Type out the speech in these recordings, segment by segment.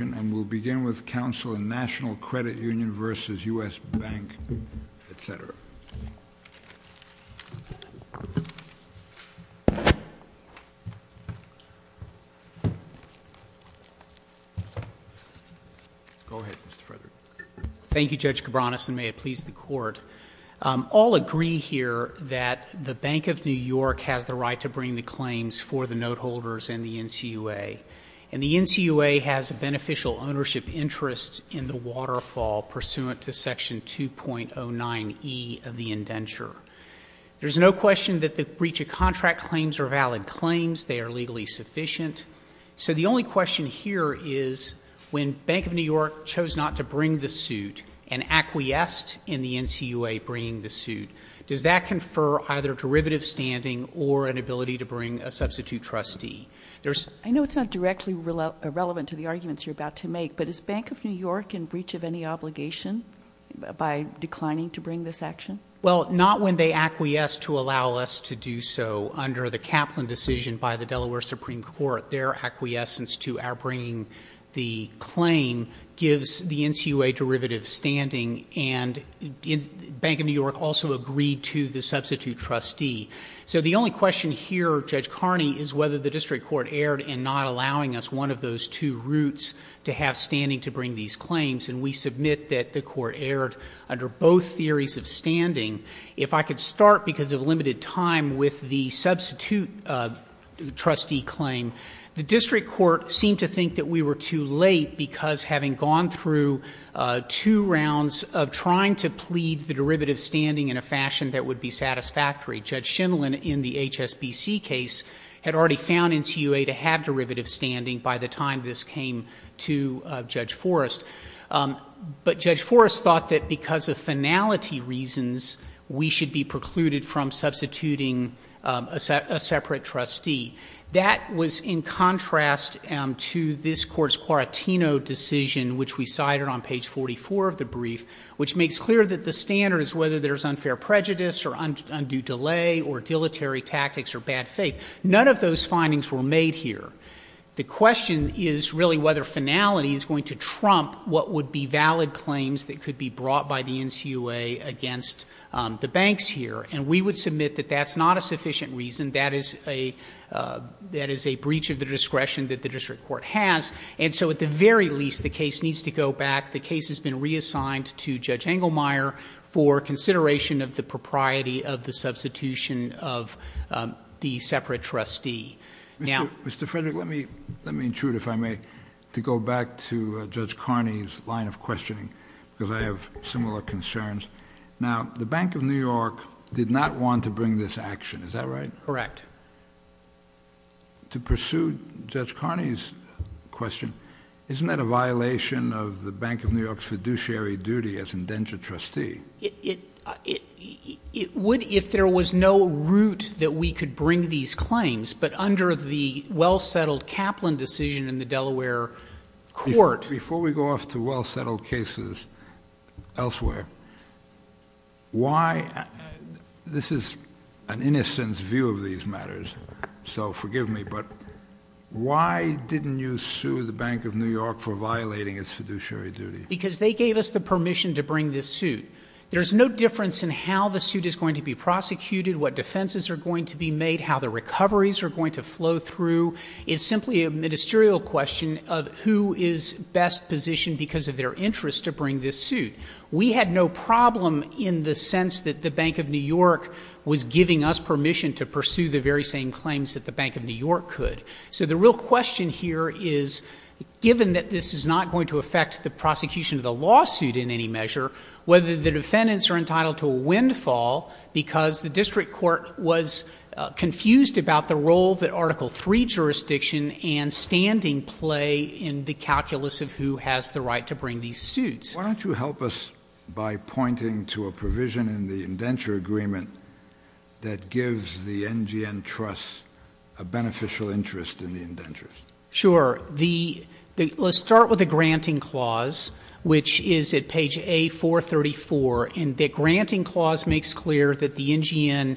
and we'll begin with counsel in National Credit Union versus U.S. Bank, etc. Go ahead, Mr. Frederick. Thank you, Judge Cabranes, and may it please the Court. All agree here that the Bank of New York has the right to bring the claims for the note holders and the NCUA, and the NCUA has a beneficial ownership interest in the waterfall pursuant to Section 2.09e of the indenture. There's no question that the breach of contract claims are valid claims. They are legally sufficient. So the only question here is when Bank of New York chose not to bring the suit and acquiesced in the NCUA bringing the suit, does that confer either derivative standing or an ability to bring a substitute trustee? I know it's not directly relevant to the arguments you're about to make, but is Bank of New York in breach of any obligation by declining to bring this action? Well, not when they acquiesce to allow us to do so. Under the Kaplan decision by the Delaware Supreme Court, their acquiescence to our bringing the claim gives the NCUA derivative standing, and Bank of New York also agreed to the substitute trustee. So the only question here, Judge Carney, is whether the district court erred in not allowing us one of those two routes to have standing to bring these claims, and we submit that the court erred under both theories of standing. If I could start, because of limited time, with the substitute trustee claim, the district court seemed to think that we were too late because, having gone through two rounds of trying to plead the derivative standing in a fashion that would be satisfactory, Judge Shindlin in the HSBC case had already found NCUA to have derivative standing by the time this came to Judge Forrest. But Judge Forrest thought that because of finality reasons, we should be precluded from substituting a separate trustee. That was in contrast to this court's Quartino decision, which we cited on page 44 of the brief, which makes clear that the standard is whether there's unfair prejudice or undue delay or dilatory tactics or bad faith. None of those findings were made here. The question is really whether finality is going to trump what would be valid claims that could be brought by the NCUA against the banks here, and we would submit that that's not a sufficient reason. That is a breach of the discretion that the district court has, and so at the very least, the case needs to go back. The case has been reassigned to Judge Engelmeyer for consideration of the propriety of the substitution of the separate trustee. Mr. Frederick, let me intrude, if I may, to go back to Judge Carney's line of questioning, because I have similar concerns. Now, the Bank of New York did not want to bring this action, is that right? Correct. To pursue Judge Carney's question, isn't that a violation of the Bank of New York's fiduciary duty as indentured trustee? It would if there was no route that we could bring these claims, but under the well-settled Kaplan decision in the Delaware court. Before we go off to well-settled cases elsewhere, this is an innocent view of these matters, so forgive me, but why didn't you sue the Bank of New York for violating its fiduciary duty? Because they gave us the permission to bring this suit. There's no difference in how the suit is going to be prosecuted, what defenses are going to be made, how the recoveries are going to flow through. It's simply a ministerial question of who is best positioned because of their interest to bring this suit. We had no problem in the sense that the Bank of New York was giving us permission to pursue the very same claims that the Bank of New York could. So the real question here is, given that this is not going to affect the prosecution of the lawsuit in any measure, whether the defendants are entitled to a windfall, because the district court was confused about the role that Article III jurisdiction and standing play in the calculus of who has the right to bring these suits. Why don't you help us by pointing to a provision in the indenture agreement that gives the NGN Trust a beneficial interest in the indentures? Sure. Let's start with the granting clause, which is at page A434. And the granting clause makes clear that the NGN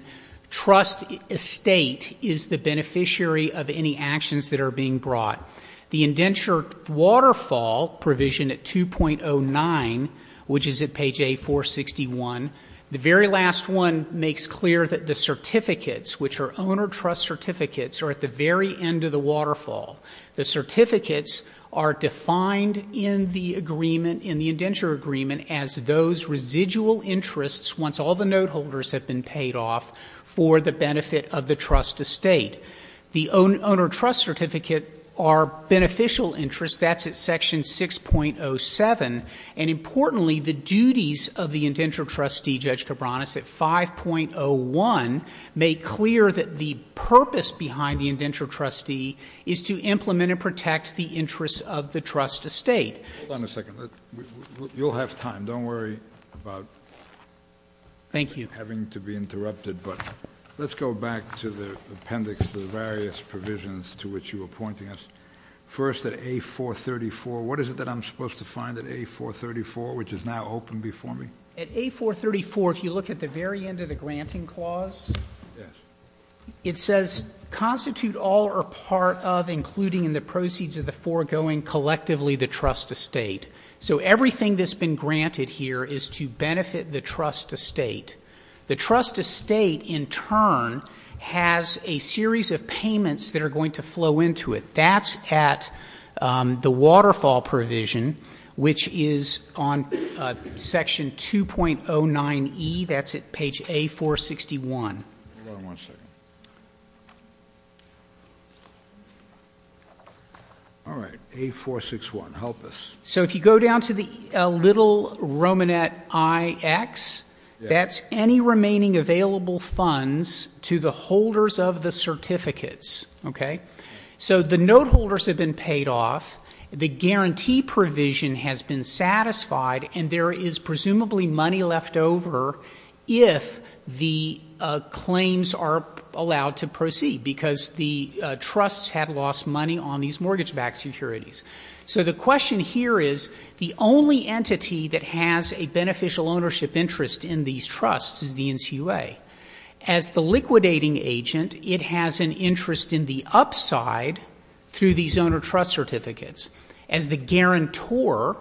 Trust estate is the beneficiary of any actions that are being brought. The indenture waterfall provision at 2.09, which is at page A461. The very last one makes clear that the certificates, which are owner trust certificates, are at the very end of the waterfall. The certificates are defined in the agreement, in the indenture agreement, as those residual interests once all the note holders have been paid off for the benefit of the trust estate. The owner trust certificate are beneficial interests. That's at section 6.07. And importantly, the duties of the indenture trustee, Judge Cabranes, at 5.01, make clear that the purpose behind the indenture trustee is to implement and protect the interests of the trust estate. Hold on a second. You'll have time. Don't worry about- Thank you. Having to be interrupted. But let's go back to the appendix, the various provisions to which you were pointing us. First, at A434, what is it that I'm supposed to find at A434, which is now open before me? At A434, if you look at the very end of the granting clause, it says, constitute all or part of, including in the proceeds of the foregoing, collectively the trust estate. So everything that's been granted here is to benefit the trust estate. The trust estate, in turn, has a series of payments that are going to flow into it. That's at the waterfall provision, which is on section 2.09E. That's at page A461. Hold on one second. All right. A461. Help us. So if you go down to the little Romanet IX, that's any remaining available funds to the holders of the certificates. Okay? So the note holders have been paid off, the guarantee provision has been satisfied, and there is presumably money left over if the claims are allowed to proceed, because the trusts have lost money on these mortgage-backed securities. So the question here is, the only entity that has a beneficial ownership interest in these trusts is the NCUA. As the liquidating agent, it has an interest in the upside through these owner trust certificates. As the guarantor,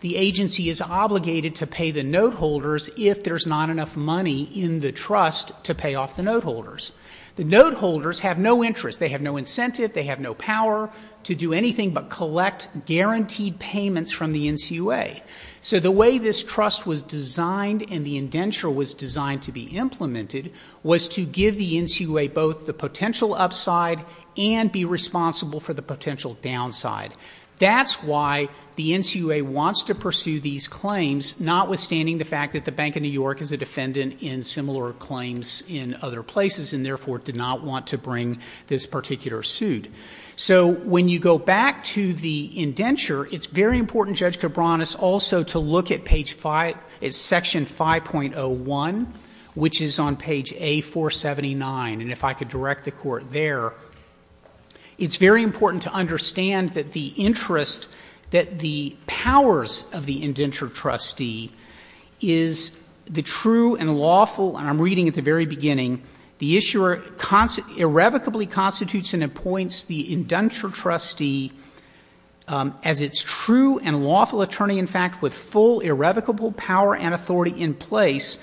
the agency is obligated to pay the note holders if there's not enough money in the trust to pay off the note holders. The note holders have no interest. They have no incentive. They have no power to do anything but collect guaranteed payments from the NCUA. So the way this trust was designed and the indenture was designed to be implemented was to give the NCUA both the potential upside and be responsible for the potential downside. That's why the NCUA wants to pursue these claims, notwithstanding the fact that the Bank of New York is a defendant in similar claims in other places and therefore did not want to bring this particular suit. So when you go back to the indenture, it's very important, Judge Cabranes, also to look at Section 5.01, which is on page A479. And if I could direct the Court there, it's very important to understand that the interest, that the powers of the indenture trustee is the true and lawful, and I'm reading at the very beginning, the issuer irrevocably constitutes and appoints the indenture trustee as its true and lawful attorney, in fact, with full irrevocable power and authority in place.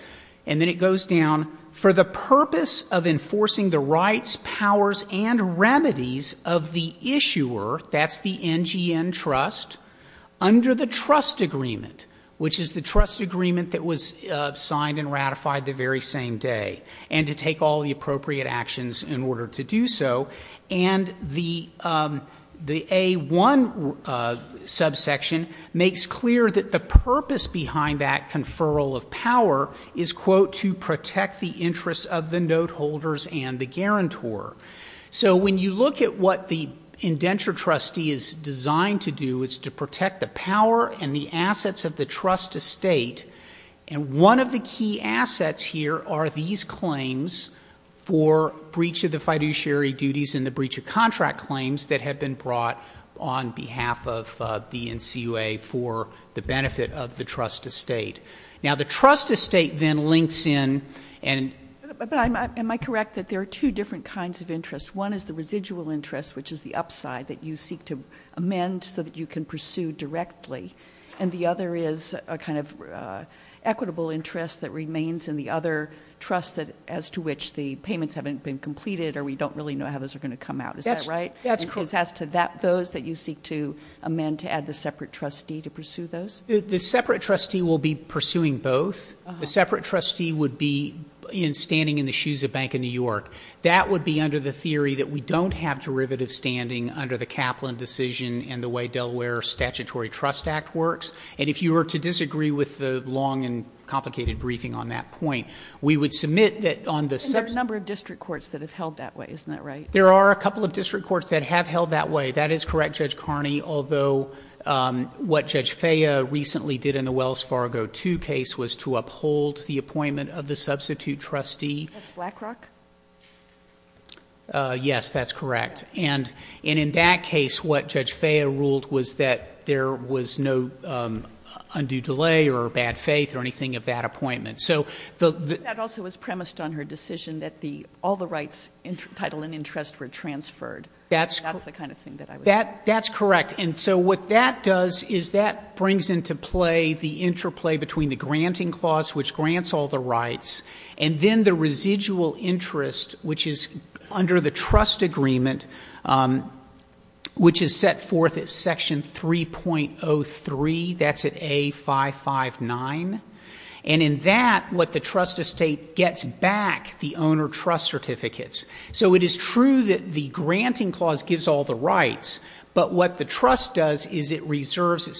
And then it goes down, for the purpose of enforcing the rights, powers, and remedies of the issuer, that's the NGN trust, under the trust agreement, which is the trust agreement that was signed and ratified the very same day. And to take all the appropriate actions in order to do so. And the A1 subsection makes clear that the purpose behind that conferral of power is, quote, to protect the interests of the note holders and the guarantor. So when you look at what the indenture trustee is designed to do, it's to protect the power and the assets of the trust estate. And one of the key assets here are these claims for breach of the fiduciary duties and the breach of contract claims that have been brought on behalf of the NCUA for the benefit of the trust estate. Now, the trust estate then links in and — But am I correct that there are two different kinds of interests? One is the residual interest, which is the upside that you seek to amend so that you can pursue directly. And the other is a kind of equitable interest that remains in the other trust as to which the payments haven't been completed or we don't really know how those are going to come out. Is that right? That's correct. As to those that you seek to amend to add the separate trustee to pursue those? The separate trustee will be pursuing both. The separate trustee would be standing in the shoes of Bank of New York. That would be under the theory that we don't have derivative standing under the Kaplan decision and the way Delaware Statutory Trust Act works. And if you were to disagree with the long and complicated briefing on that point, we would submit that on the — And there are a number of district courts that have held that way. Isn't that right? There are a couple of district courts that have held that way. That is correct, Judge Carney, although what Judge Faya recently did in the Wells Fargo II case was to uphold the appointment of the substitute trustee. That's Blackrock? Yes, that's correct. And in that case, what Judge Faya ruled was that there was no undue delay or bad faith or anything of that appointment. That also was premised on her decision that all the rights, title, and interest were transferred. That's the kind of thing that I was — That's correct. And so what that does is that brings into play the interplay between the granting clause, which grants all the rights, and then the residual interest, which is under the trust agreement, which is set forth at Section 3.03. That's at A559. And in that, what the trust estate gets back, the owner trust certificates. So it is true that the granting clause gives all the rights, but what the trust does is it reserves —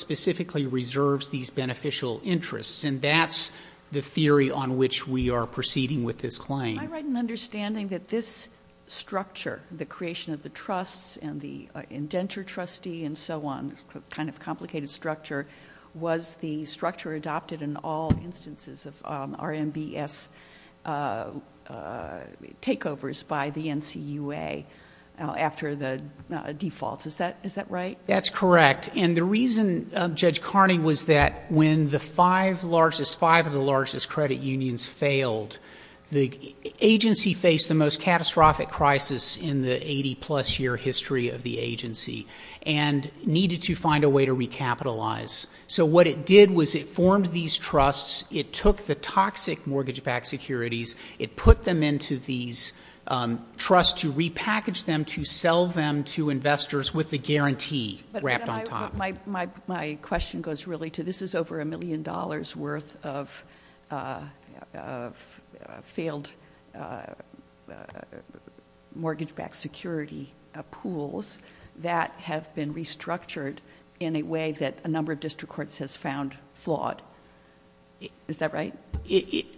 That's the theory on which we are proceeding with this claim. Am I right in understanding that this structure, the creation of the trusts and the indenture trustee and so on, kind of complicated structure, was the structure adopted in all instances of RMBS takeovers by the NCUA after the defaults? Is that right? That's correct. And the reason, Judge Carney, was that when the five largest — five of the largest credit unions failed, the agency faced the most catastrophic crisis in the 80-plus year history of the agency and needed to find a way to recapitalize. So what it did was it formed these trusts. It took the toxic mortgage-backed securities. It put them into these trusts to repackage them, to sell them to investors with the guarantee wrapped on top. My question goes really to this is over a million dollars' worth of failed mortgage-backed security pools that have been restructured in a way that a number of district courts has found flawed. Is that right?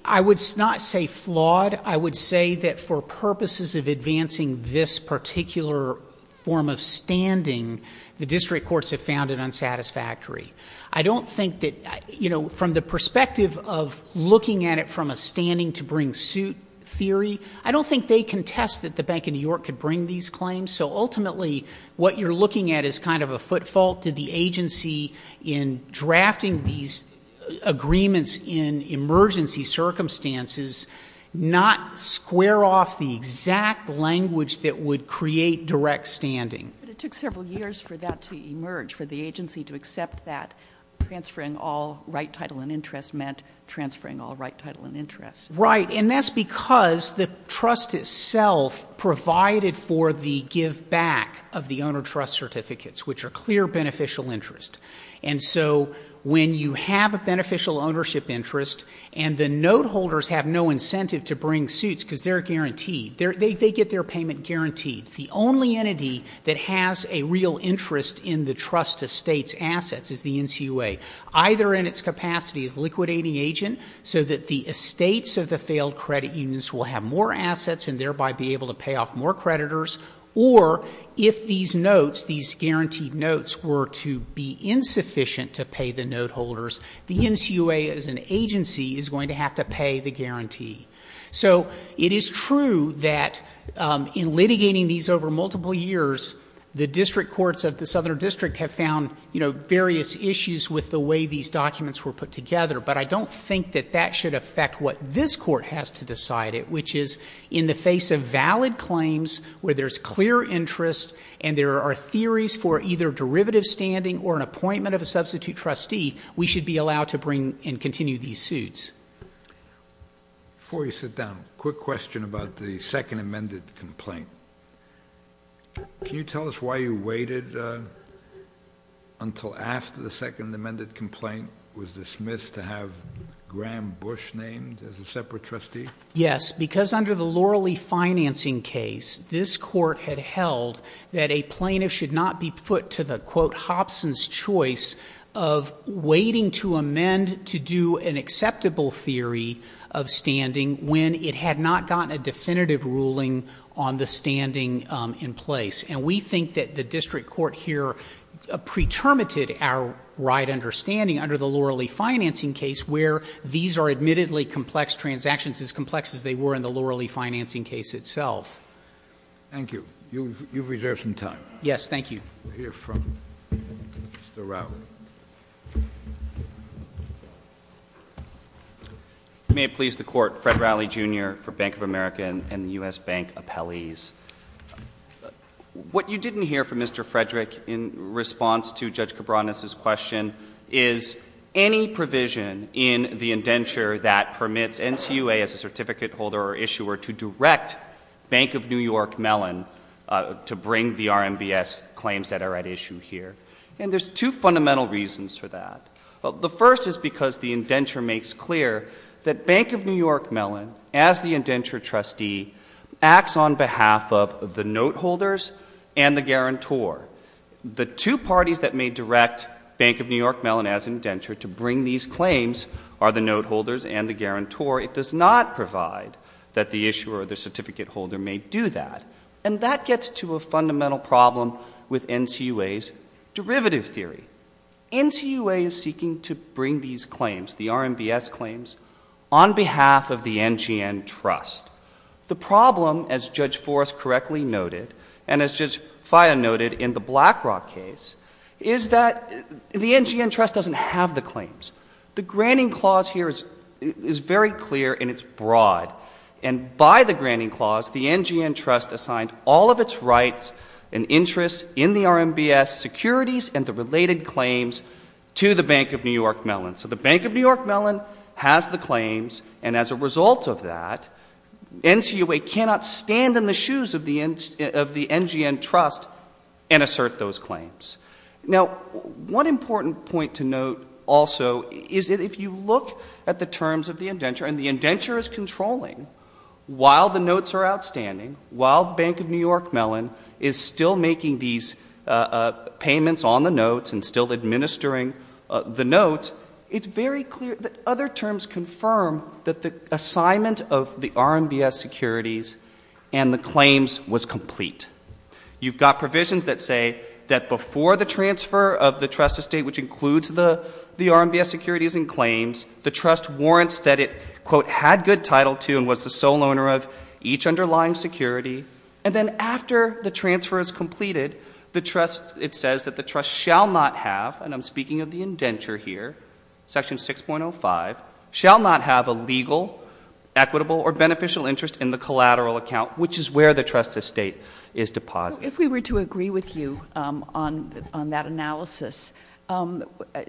I would not say flawed. I would say that for purposes of advancing this particular form of standing, the district courts have found it unsatisfactory. I don't think that — you know, from the perspective of looking at it from a standing-to-bring-suit theory, I don't think they contest that the Bank of New York could bring these claims. So ultimately, what you're looking at is kind of a footfall to the agency in drafting these agreements in emergency circumstances, not square off the exact language that would create direct standing. But it took several years for that to emerge, for the agency to accept that transferring all right, title, and interest meant transferring all right, title, and interest. Right, and that's because the trust itself provided for the give-back of the owner-trust certificates, which are clear beneficial interest. And so when you have a beneficial ownership interest and the note-holders have no incentive to bring suits because they're guaranteed, they get their payment guaranteed, the only entity that has a real interest in the trust estate's assets is the NCUA, either in its capacity as liquidating agent so that the estates of the failed credit unions will have more assets and thereby be able to pay off more creditors, or if these notes, these guaranteed notes, were to be insufficient to pay the note-holders, the NCUA as an agency is going to have to pay the guarantee. So it is true that in litigating these over multiple years, the district courts of the Southern District have found, you know, various issues with the way these documents were put together, but I don't think that that should affect what this court has to decide, which is in the face of valid claims where there's clear interest and there are theories for either derivative standing or an appointment of a substitute trustee, we should be allowed to bring and continue these suits. Before you sit down, quick question about the second amended complaint. Can you tell us why you waited until after the second amended complaint was dismissed to have Graham Bush named as a separate trustee? Yes, because under the Loralee financing case, this court had held that a plaintiff should not be put to the, quote, of standing when it had not gotten a definitive ruling on the standing in place. And we think that the district court here pretermited our right understanding under the Loralee financing case where these are admittedly complex transactions, as complex as they were in the Loralee financing case itself. Thank you. You've reserved some time. Yes, thank you. We'll hear from Mr. Rowley. May it please the court, Fred Rowley, Jr. for Bank of America and the U.S. Bank Appellees. What you didn't hear from Mr. Frederick in response to Judge Cabranes' question is any provision in the indenture that permits NCUA as a certificate holder or issuer to direct Bank of New York Mellon to bring the RMBS claims that are at issue here. And there's two fundamental reasons for that. The first is because the indenture makes clear that Bank of New York Mellon, as the indenture trustee, acts on behalf of the note holders and the guarantor. The two parties that may direct Bank of New York Mellon as indenture to bring these claims are the note holders and the guarantor. It does not provide that the issuer or the certificate holder may do that. And that gets to a fundamental problem with NCUA's derivative theory. NCUA is seeking to bring these claims, the RMBS claims, on behalf of the NGN Trust. The problem, as Judge Forrest correctly noted, and as Judge Faya noted in the BlackRock case, is that the NGN Trust doesn't have the claims. The granting clause here is very clear, and it's broad. And by the granting clause, the NGN Trust assigned all of its rights and interests in the RMBS securities and the related claims to the Bank of New York Mellon. So the Bank of New York Mellon has the claims, and as a result of that, NCUA cannot stand in the shoes of the NGN Trust and assert those claims. Now, one important point to note also is that if you look at the terms of the indenture, and the indenture is controlling while the notes are outstanding, while Bank of New York Mellon is still making these payments on the notes and still administering the notes, it's very clear that other terms confirm that the assignment of the RMBS securities and the claims was complete. You've got provisions that say that before the transfer of the trust estate, which includes the RMBS securities and claims, the trust warrants that it, quote, had good title to and was the sole owner of each underlying security. And then after the transfer is completed, it says that the trust shall not have, and I'm speaking of the indenture here, section 6.05, shall not have a legal, equitable, or beneficial interest in the collateral account, which is where the trust estate is deposited. If we were to agree with you on that analysis,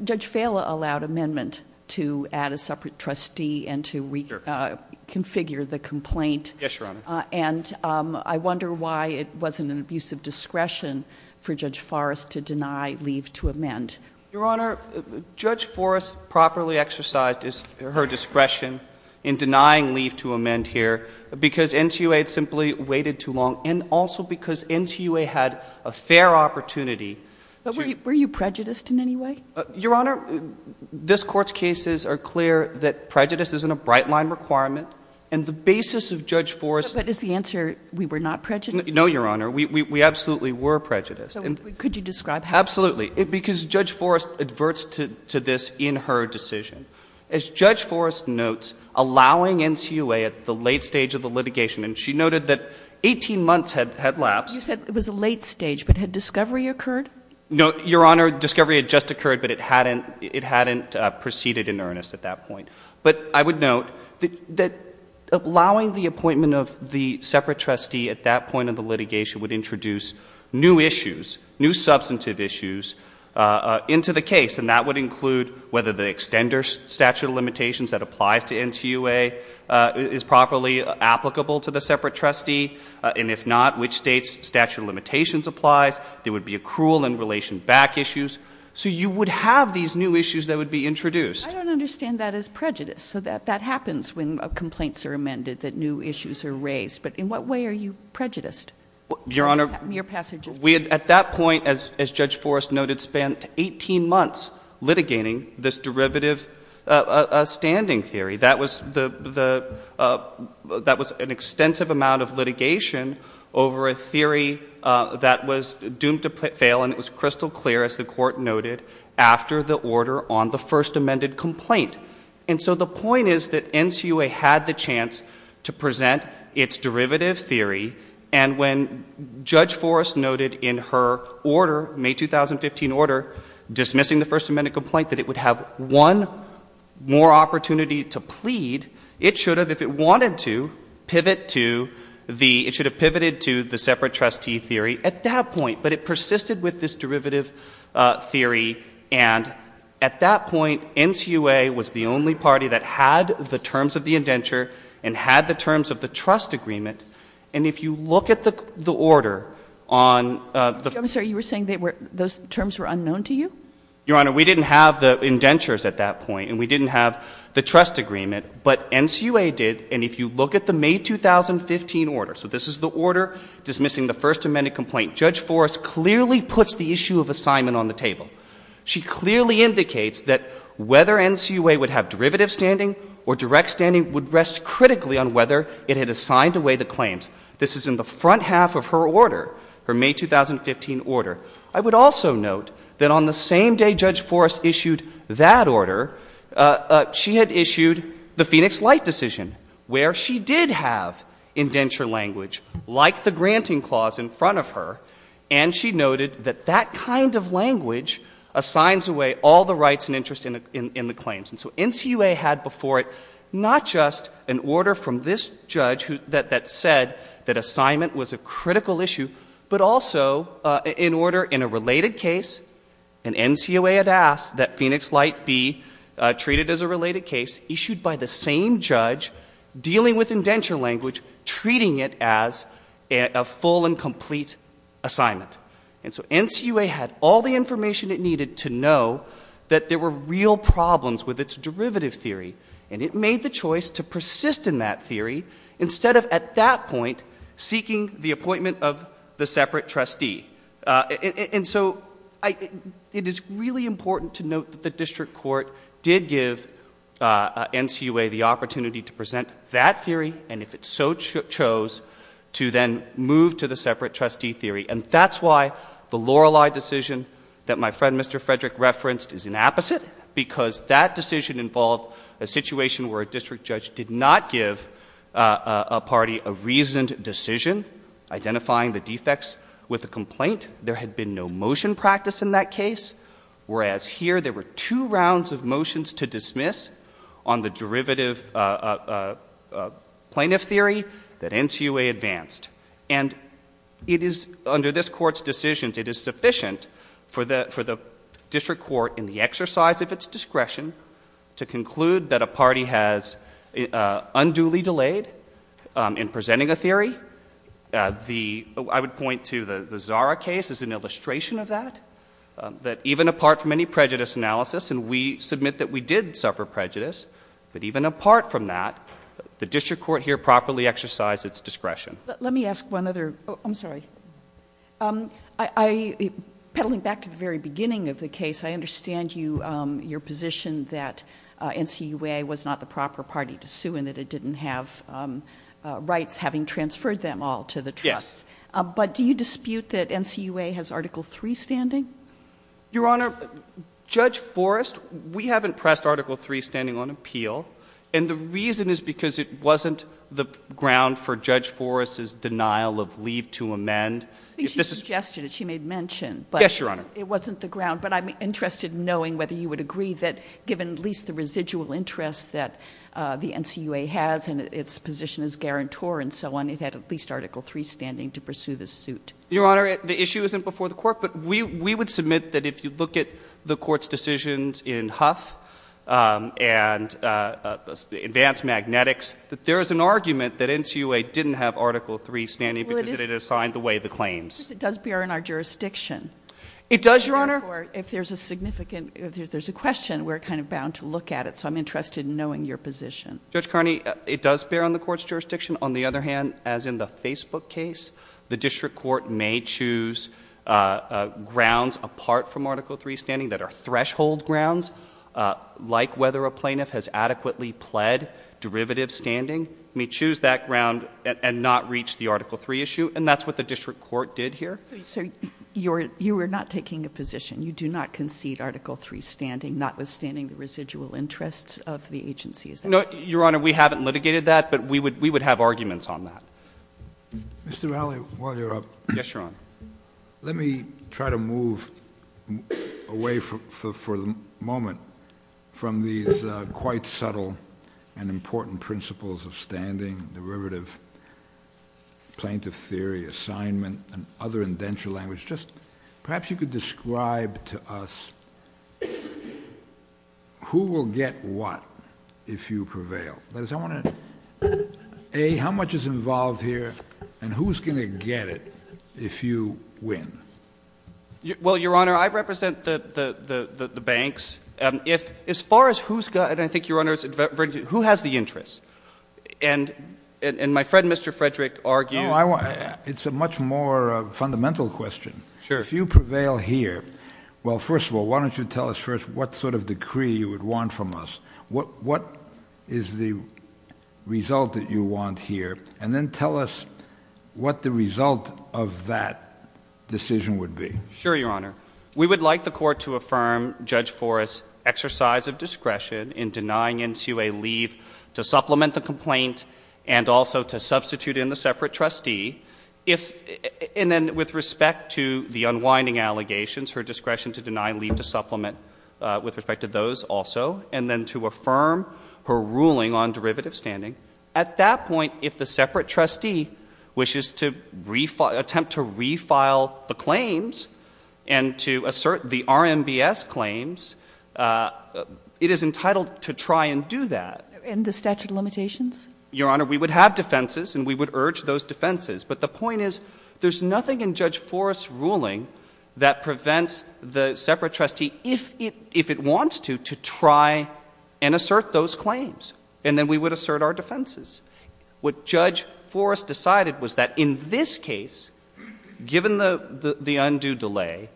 Judge Fala allowed amendment to add a separate trustee and to reconfigure the complaint. Yes, Your Honor. And I wonder why it wasn't an abuse of discretion for Judge Forrest to deny leave to amend. Your Honor, Judge Forrest properly exercised her discretion in denying leave to amend here because NCUA had simply waited too long and also because NCUA had a fair opportunity to— But were you prejudiced in any way? Your Honor, this Court's cases are clear that prejudice isn't a bright-line requirement, and the basis of Judge Forrest— But is the answer we were not prejudiced? No, Your Honor. We absolutely were prejudiced. Could you describe how? Absolutely. Because Judge Forrest adverts to this in her decision. As Judge Forrest notes, allowing NCUA at the late stage of the litigation, and she noted that 18 months had lapsed— You said it was a late stage, but had discovery occurred? No, Your Honor. Discovery had just occurred, but it hadn't proceeded in earnest at that point. But I would note that allowing the appointment of the separate trustee at that point of the litigation would introduce new issues, new substantive issues into the case, and that would include whether the extender statute of limitations that applies to NCUA is properly applicable to the separate trustee, and if not, which state's statute of limitations applies. There would be accrual and relation back issues. So you would have these new issues that would be introduced. I don't understand that as prejudice, so that happens when complaints are amended, that new issues are raised. But in what way are you prejudiced? Your Honor— At that point, as Judge Forrest noted, spent 18 months litigating this derivative standing theory. That was an extensive amount of litigation over a theory that was doomed to fail, and it was crystal clear, as the Court noted, after the order on the first amended complaint. And so the point is that NCUA had the chance to present its derivative theory, and when Judge Forrest noted in her order, May 2015 order, dismissing the first amended complaint, that it would have one more opportunity to plead, it should have, if it wanted to, pivot to the separate trustee theory at that point. But it persisted with this derivative theory, and at that point, NCUA was the only party that had the terms of the indenture and had the terms of the trust agreement, and if you look at the order on the— I'm sorry, you were saying those terms were unknown to you? Your Honor, we didn't have the indentures at that point, and we didn't have the trust agreement, but NCUA did, and if you look at the May 2015 order, so this is the order dismissing the first amended complaint, Judge Forrest clearly puts the issue of assignment on the table. She clearly indicates that whether NCUA would have derivative standing or direct standing would rest critically on whether it had assigned away the claims. This is in the front half of her order, her May 2015 order. I would also note that on the same day Judge Forrest issued that order, she had issued the Phoenix Light decision, where she did have indenture language, like the granting clause in front of her, and she noted that that kind of language assigns away all the rights and interest in the claims. And so NCUA had before it not just an order from this judge that said that assignment was a critical issue, but also an order in a related case, and NCUA had asked that Phoenix Light be treated as a related case, issued by the same judge dealing with indenture language, treating it as a full and complete assignment. And so NCUA had all the information it needed to know that there were real problems with its derivative theory, and it made the choice to persist in that theory instead of, at that point, seeking the appointment of the separate trustee. And so it is really important to note that the district court did give NCUA the opportunity to present that theory, and if it so chose, to then move to the separate trustee theory. And that's why the Lorelei decision that my friend Mr. Frederick referenced is an opposite, because that decision involved a situation where a district judge did not give a party a reasoned decision, identifying the defects with a complaint. There had been no motion practice in that case, whereas here there were two rounds of motions to dismiss on the derivative plaintiff theory that NCUA advanced. And it is, under this court's decisions, it is sufficient for the district court, in the exercise of its discretion, to conclude that a party has unduly delayed in presenting a theory. I would point to the Zara case as an illustration of that. That even apart from any prejudice analysis, and we submit that we did suffer prejudice, but even apart from that, the district court here properly exercised its discretion. I'm sorry. Petaling back to the very beginning of the case, I understand your position that NCUA was not the proper party to sue and that it didn't have rights, having transferred them all to the trust. Yes. But do you dispute that NCUA has Article III standing? Your Honor, Judge Forrest, we haven't pressed Article III standing on appeal, and the reason is because it wasn't the ground for Judge Forrest's denial of leave to amend. I think she suggested it. She made mention. Yes, Your Honor. But it wasn't the ground. But I'm interested in knowing whether you would agree that, given at least the residual interest that the NCUA has and its position as guarantor and so on, it had at least Article III standing to pursue this suit. Your Honor, the issue isn't before the court, but we would submit that if you look at the court's decisions in Huff and Advanced Magnetics, that there is an argument that NCUA didn't have Article III standing because it assigned the way of the claims. It does bear in our jurisdiction. It does, Your Honor. Therefore, if there's a question, we're kind of bound to look at it. So I'm interested in knowing your position. Judge Carney, it does bear on the court's jurisdiction. On the other hand, as in the Facebook case, the district court may choose grounds apart from Article III standing that are threshold grounds, like whether a plaintiff has adequately pled derivative standing. It may choose that ground and not reach the Article III issue, and that's what the district court did here. So you are not taking a position. You do not concede Article III standing, notwithstanding the residual interests of the agency. No, Your Honor, we haven't litigated that, but we would have arguments on that. Mr. Raleigh, while you're up. Yes, Your Honor. Let me try to move away for the moment from these quite subtle and important principles of standing, derivative, plaintiff theory, assignment, and other indenture language. Just perhaps you could describe to us who will get what if you prevail. A, how much is involved here, and who's going to get it if you win? Well, Your Honor, I represent the banks. As far as who's got it, I think Your Honor, who has the interest? And my friend, Mr. Frederick, argued. It's a much more fundamental question. Sure. If you prevail here, well, first of all, why don't you tell us first what sort of decree you would want from us? What is the result that you want here? And then tell us what the result of that decision would be. Sure, Your Honor. We would like the court to affirm Judge Forrest's exercise of discretion in denying NCA leave to supplement the complaint and also to substitute in the separate trustee, and then with respect to the unwinding allegations, her discretion to deny leave to supplement with respect to those also, and then to affirm her ruling on derivative standing. At that point, if the separate trustee wishes to attempt to refile the claims and to assert the RMBS claims, it is entitled to try and do that. And the statute of limitations? Your Honor, we would have defenses, and we would urge those defenses. But the point is, there's nothing in Judge Forrest's ruling that prevents the separate trustee, if it wants to, to try and assert those claims, and then we would assert our defenses. What Judge Forrest decided was that in this case, given the undue delay,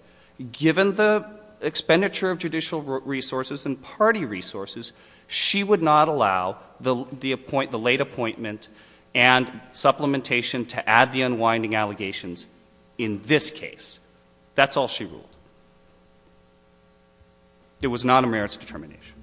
given the expenditure of judicial resources and party resources, she would not allow the late appointment and supplementation to add the unwinding allegations in this case. That's all she ruled. It was not a merits determination.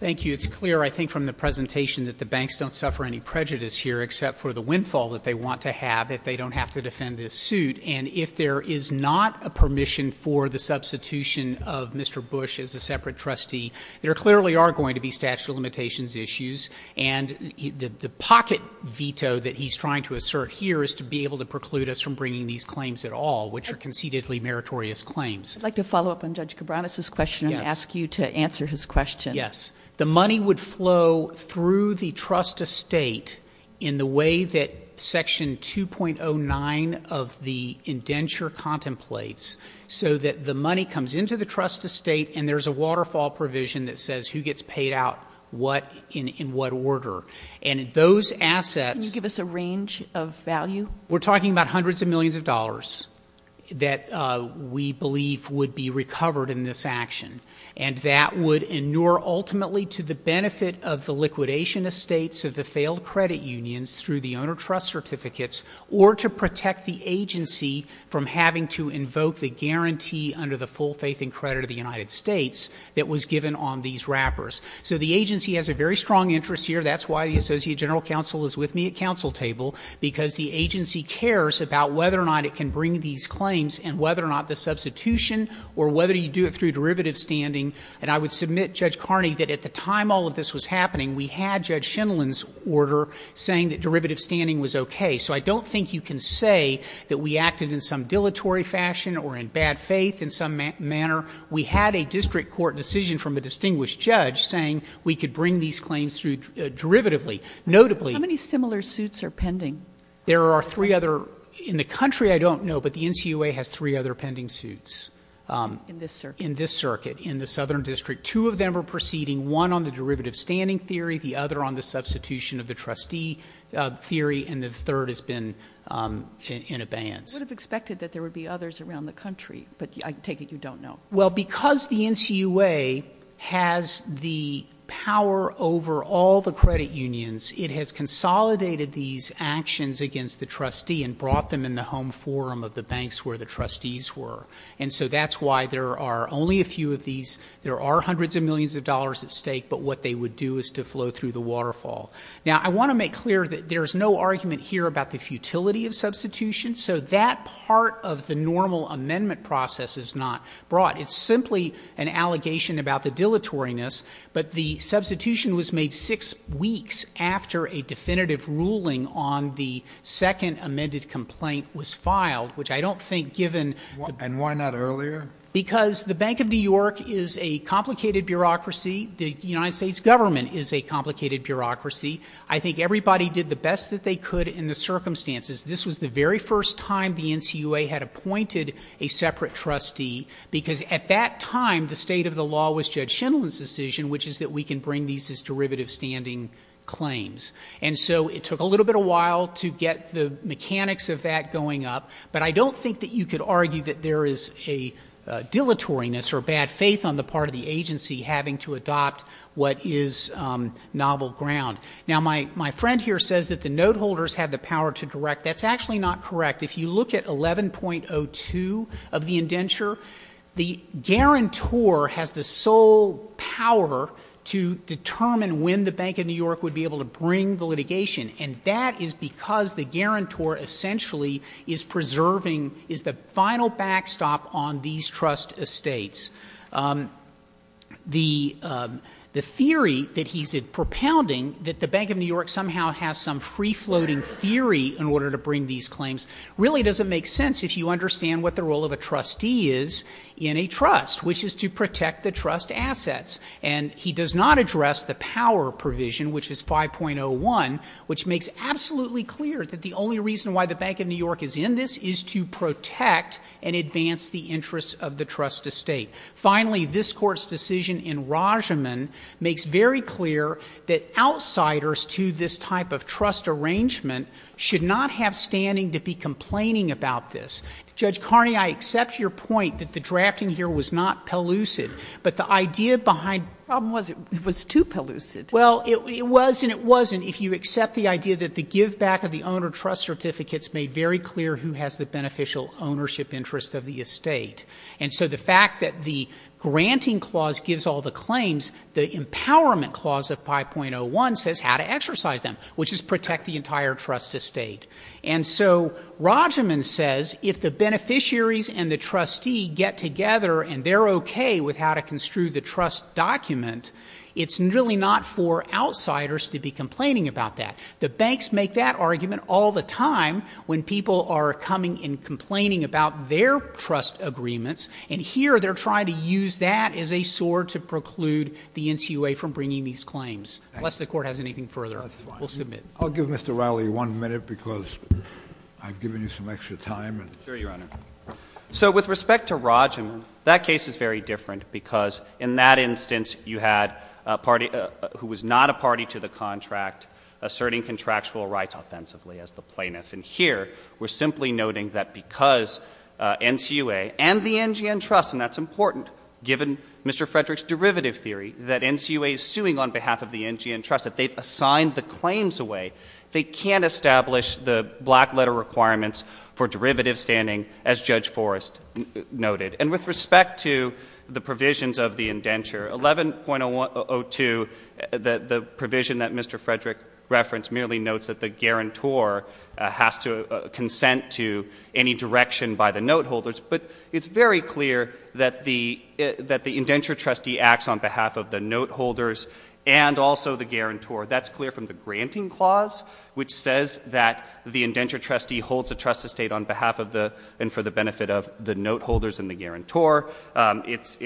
Thank you. It's clear, I think, from the presentation that the banks don't suffer any prejudice here, except for the windfall that they want to have if they don't have to defend this suit. And if there is not a permission for the substitution of Mr. Bush as a separate trustee, there clearly are going to be statute of limitations issues. And the pocket veto that he's trying to assert here is to be able to preclude us from bringing these claims at all, which are concededly meritorious claims. I'd like to follow up on Judge Cabranes' question and ask you to answer his question. Yes. The money would flow through the trust estate in the way that Section 2.09 of the indenture contemplates, so that the money comes into the trust estate and there's a waterfall provision that says who gets paid out in what order. And those assets — Can you give us a range of value? We're talking about hundreds of millions of dollars that we believe would be recovered in this action. And that would inure ultimately to the benefit of the liquidation estates of the failed credit unions through the owner trust certificates, or to protect the agency from having to invoke the guarantee under the full faith and credit of the United States that was given on these wrappers. So the agency has a very strong interest here. That's why the Associate General Counsel is with me at counsel table, because the agency cares about whether or not it can bring these claims and whether or not the substitution or whether you do it through derivative standing. And I would submit, Judge Carney, that at the time all of this was happening, we had Judge Schindelin's order saying that derivative standing was okay. So I don't think you can say that we acted in some dilatory fashion or in bad faith in some manner. We had a district court decision from a distinguished judge saying we could bring these claims through derivatively. Notably — How many similar suits are pending? There are three other — in the country I don't know, but the NCUA has three other pending suits. In this circuit? In this circuit, in the Southern District. Two of them are proceeding, one on the derivative standing theory, the other on the substitution of the trustee theory, and the third has been in abeyance. I would have expected that there would be others around the country, but I take it you don't know. Well, because the NCUA has the power over all the credit unions, it has consolidated these actions against the trustee and brought them in the home forum of the banks where the trustees were. And so that's why there are only a few of these. There are hundreds of millions of dollars at stake, but what they would do is to flow through the waterfall. Now, I want to make clear that there is no argument here about the futility of substitution, so that part of the normal amendment process is not brought. It's simply an allegation about the dilatoriness, but the substitution was made six weeks after a definitive ruling on the second amended complaint was filed, which I don't think, given — And why not earlier? Because the Bank of New York is a complicated bureaucracy. The United States government is a complicated bureaucracy. I think everybody did the best that they could in the circumstances. This was the very first time the NCUA had appointed a separate trustee because at that time the state of the law was Judge Schindler's decision, which is that we can bring these as derivative standing claims. And so it took a little bit of a while to get the mechanics of that going up, but I don't think that you could argue that there is a dilatoriness or bad faith on the part of the agency having to adopt what is novel ground. Now, my friend here says that the note holders have the power to direct. That's actually not correct. If you look at 11.02 of the indenture, the guarantor has the sole power to determine when the Bank of New York would be able to bring the litigation, and that is because the guarantor essentially is preserving — is the final backstop on these trust estates. The theory that he's propounding, that the Bank of New York somehow has some free-floating theory in order to bring these claims, really doesn't make sense if you understand what the role of a trustee is in a trust, which is to protect the trust assets. And he does not address the power provision, which is 5.01, which makes absolutely clear that the only reason why the Bank of New York is in this is to protect and advance the interests of the trust estate. Finally, this Court's decision in Rajaman makes very clear that outsiders to this type of trust arrangement should not have standing to be complaining about this. Judge Carney, I accept your point that the drafting here was not pellucid, but the idea behind — The problem was it was too pellucid. Well, it was and it wasn't if you accept the idea that the giveback of the owner trust certificates made very clear who has the beneficial ownership interest of the estate. And so the fact that the granting clause gives all the claims, the empowerment clause of 5.01 says how to exercise them, which is protect the entire trust estate. And so Rajaman says if the beneficiaries and the trustee get together and they're okay with how to construe the trust document, it's really not for outsiders to be complaining about that. The banks make that argument all the time when people are coming and complaining about their trust agreements, and here they're trying to use that as a sword to preclude the NCUA from bringing these claims. Unless the Court has anything further, we'll submit. I'll give Mr. Rowley one minute because I've given you some extra time. Sure, Your Honor. So with respect to Rajaman, that case is very different because in that instance you had a party who was not a party to the contract asserting contractual rights offensively as the plaintiff. And here we're simply noting that because NCUA and the NGN Trust, and that's important, given Mr. Frederick's derivative theory that NCUA is suing on behalf of the NGN Trust, that they've assigned the claims away, they can't establish the black letter requirements for derivative standing as Judge Forrest noted. And with respect to the provisions of the indenture, 11.02, the provision that Mr. Frederick referenced merely notes that the guarantor has to consent to any direction by the note holders. But it's very clear that the indenture trustee acts on behalf of the note holders and also the guarantor. That's clear from the granting clause, which says that the indenture trustee holds a trust estate on behalf of the, and for the benefit of the note holders and the guarantor. It's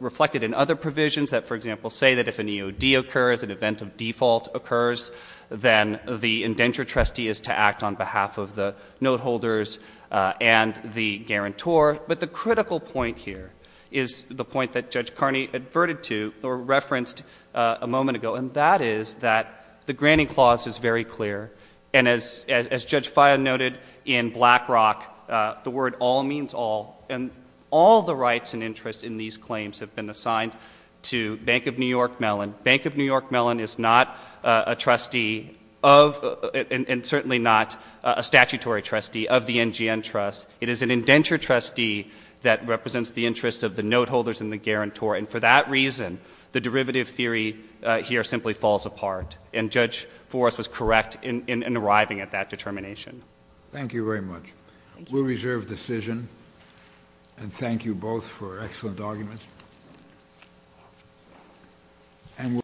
reflected in other provisions that, for example, say that if an EOD occurs, an event of default occurs, then the indenture trustee is to act on behalf of the note holders and the guarantor. But the critical point here is the point that Judge Carney adverted to or referenced a moment ago, and that is that the granting clause is very clear. And as Judge Faya noted in Black Rock, the word all means all. And all the rights and interests in these claims have been assigned to Bank of New York Mellon. Bank of New York Mellon is not a trustee of, and certainly not a statutory trustee of the NGN Trust. It is an indenture trustee that represents the interests of the note holders and the guarantor. And for that reason, the derivative theory here simply falls apart. And Judge Forrest was correct in arriving at that determination. Thank you very much. We'll reserve decision. And thank you both for excellent arguments.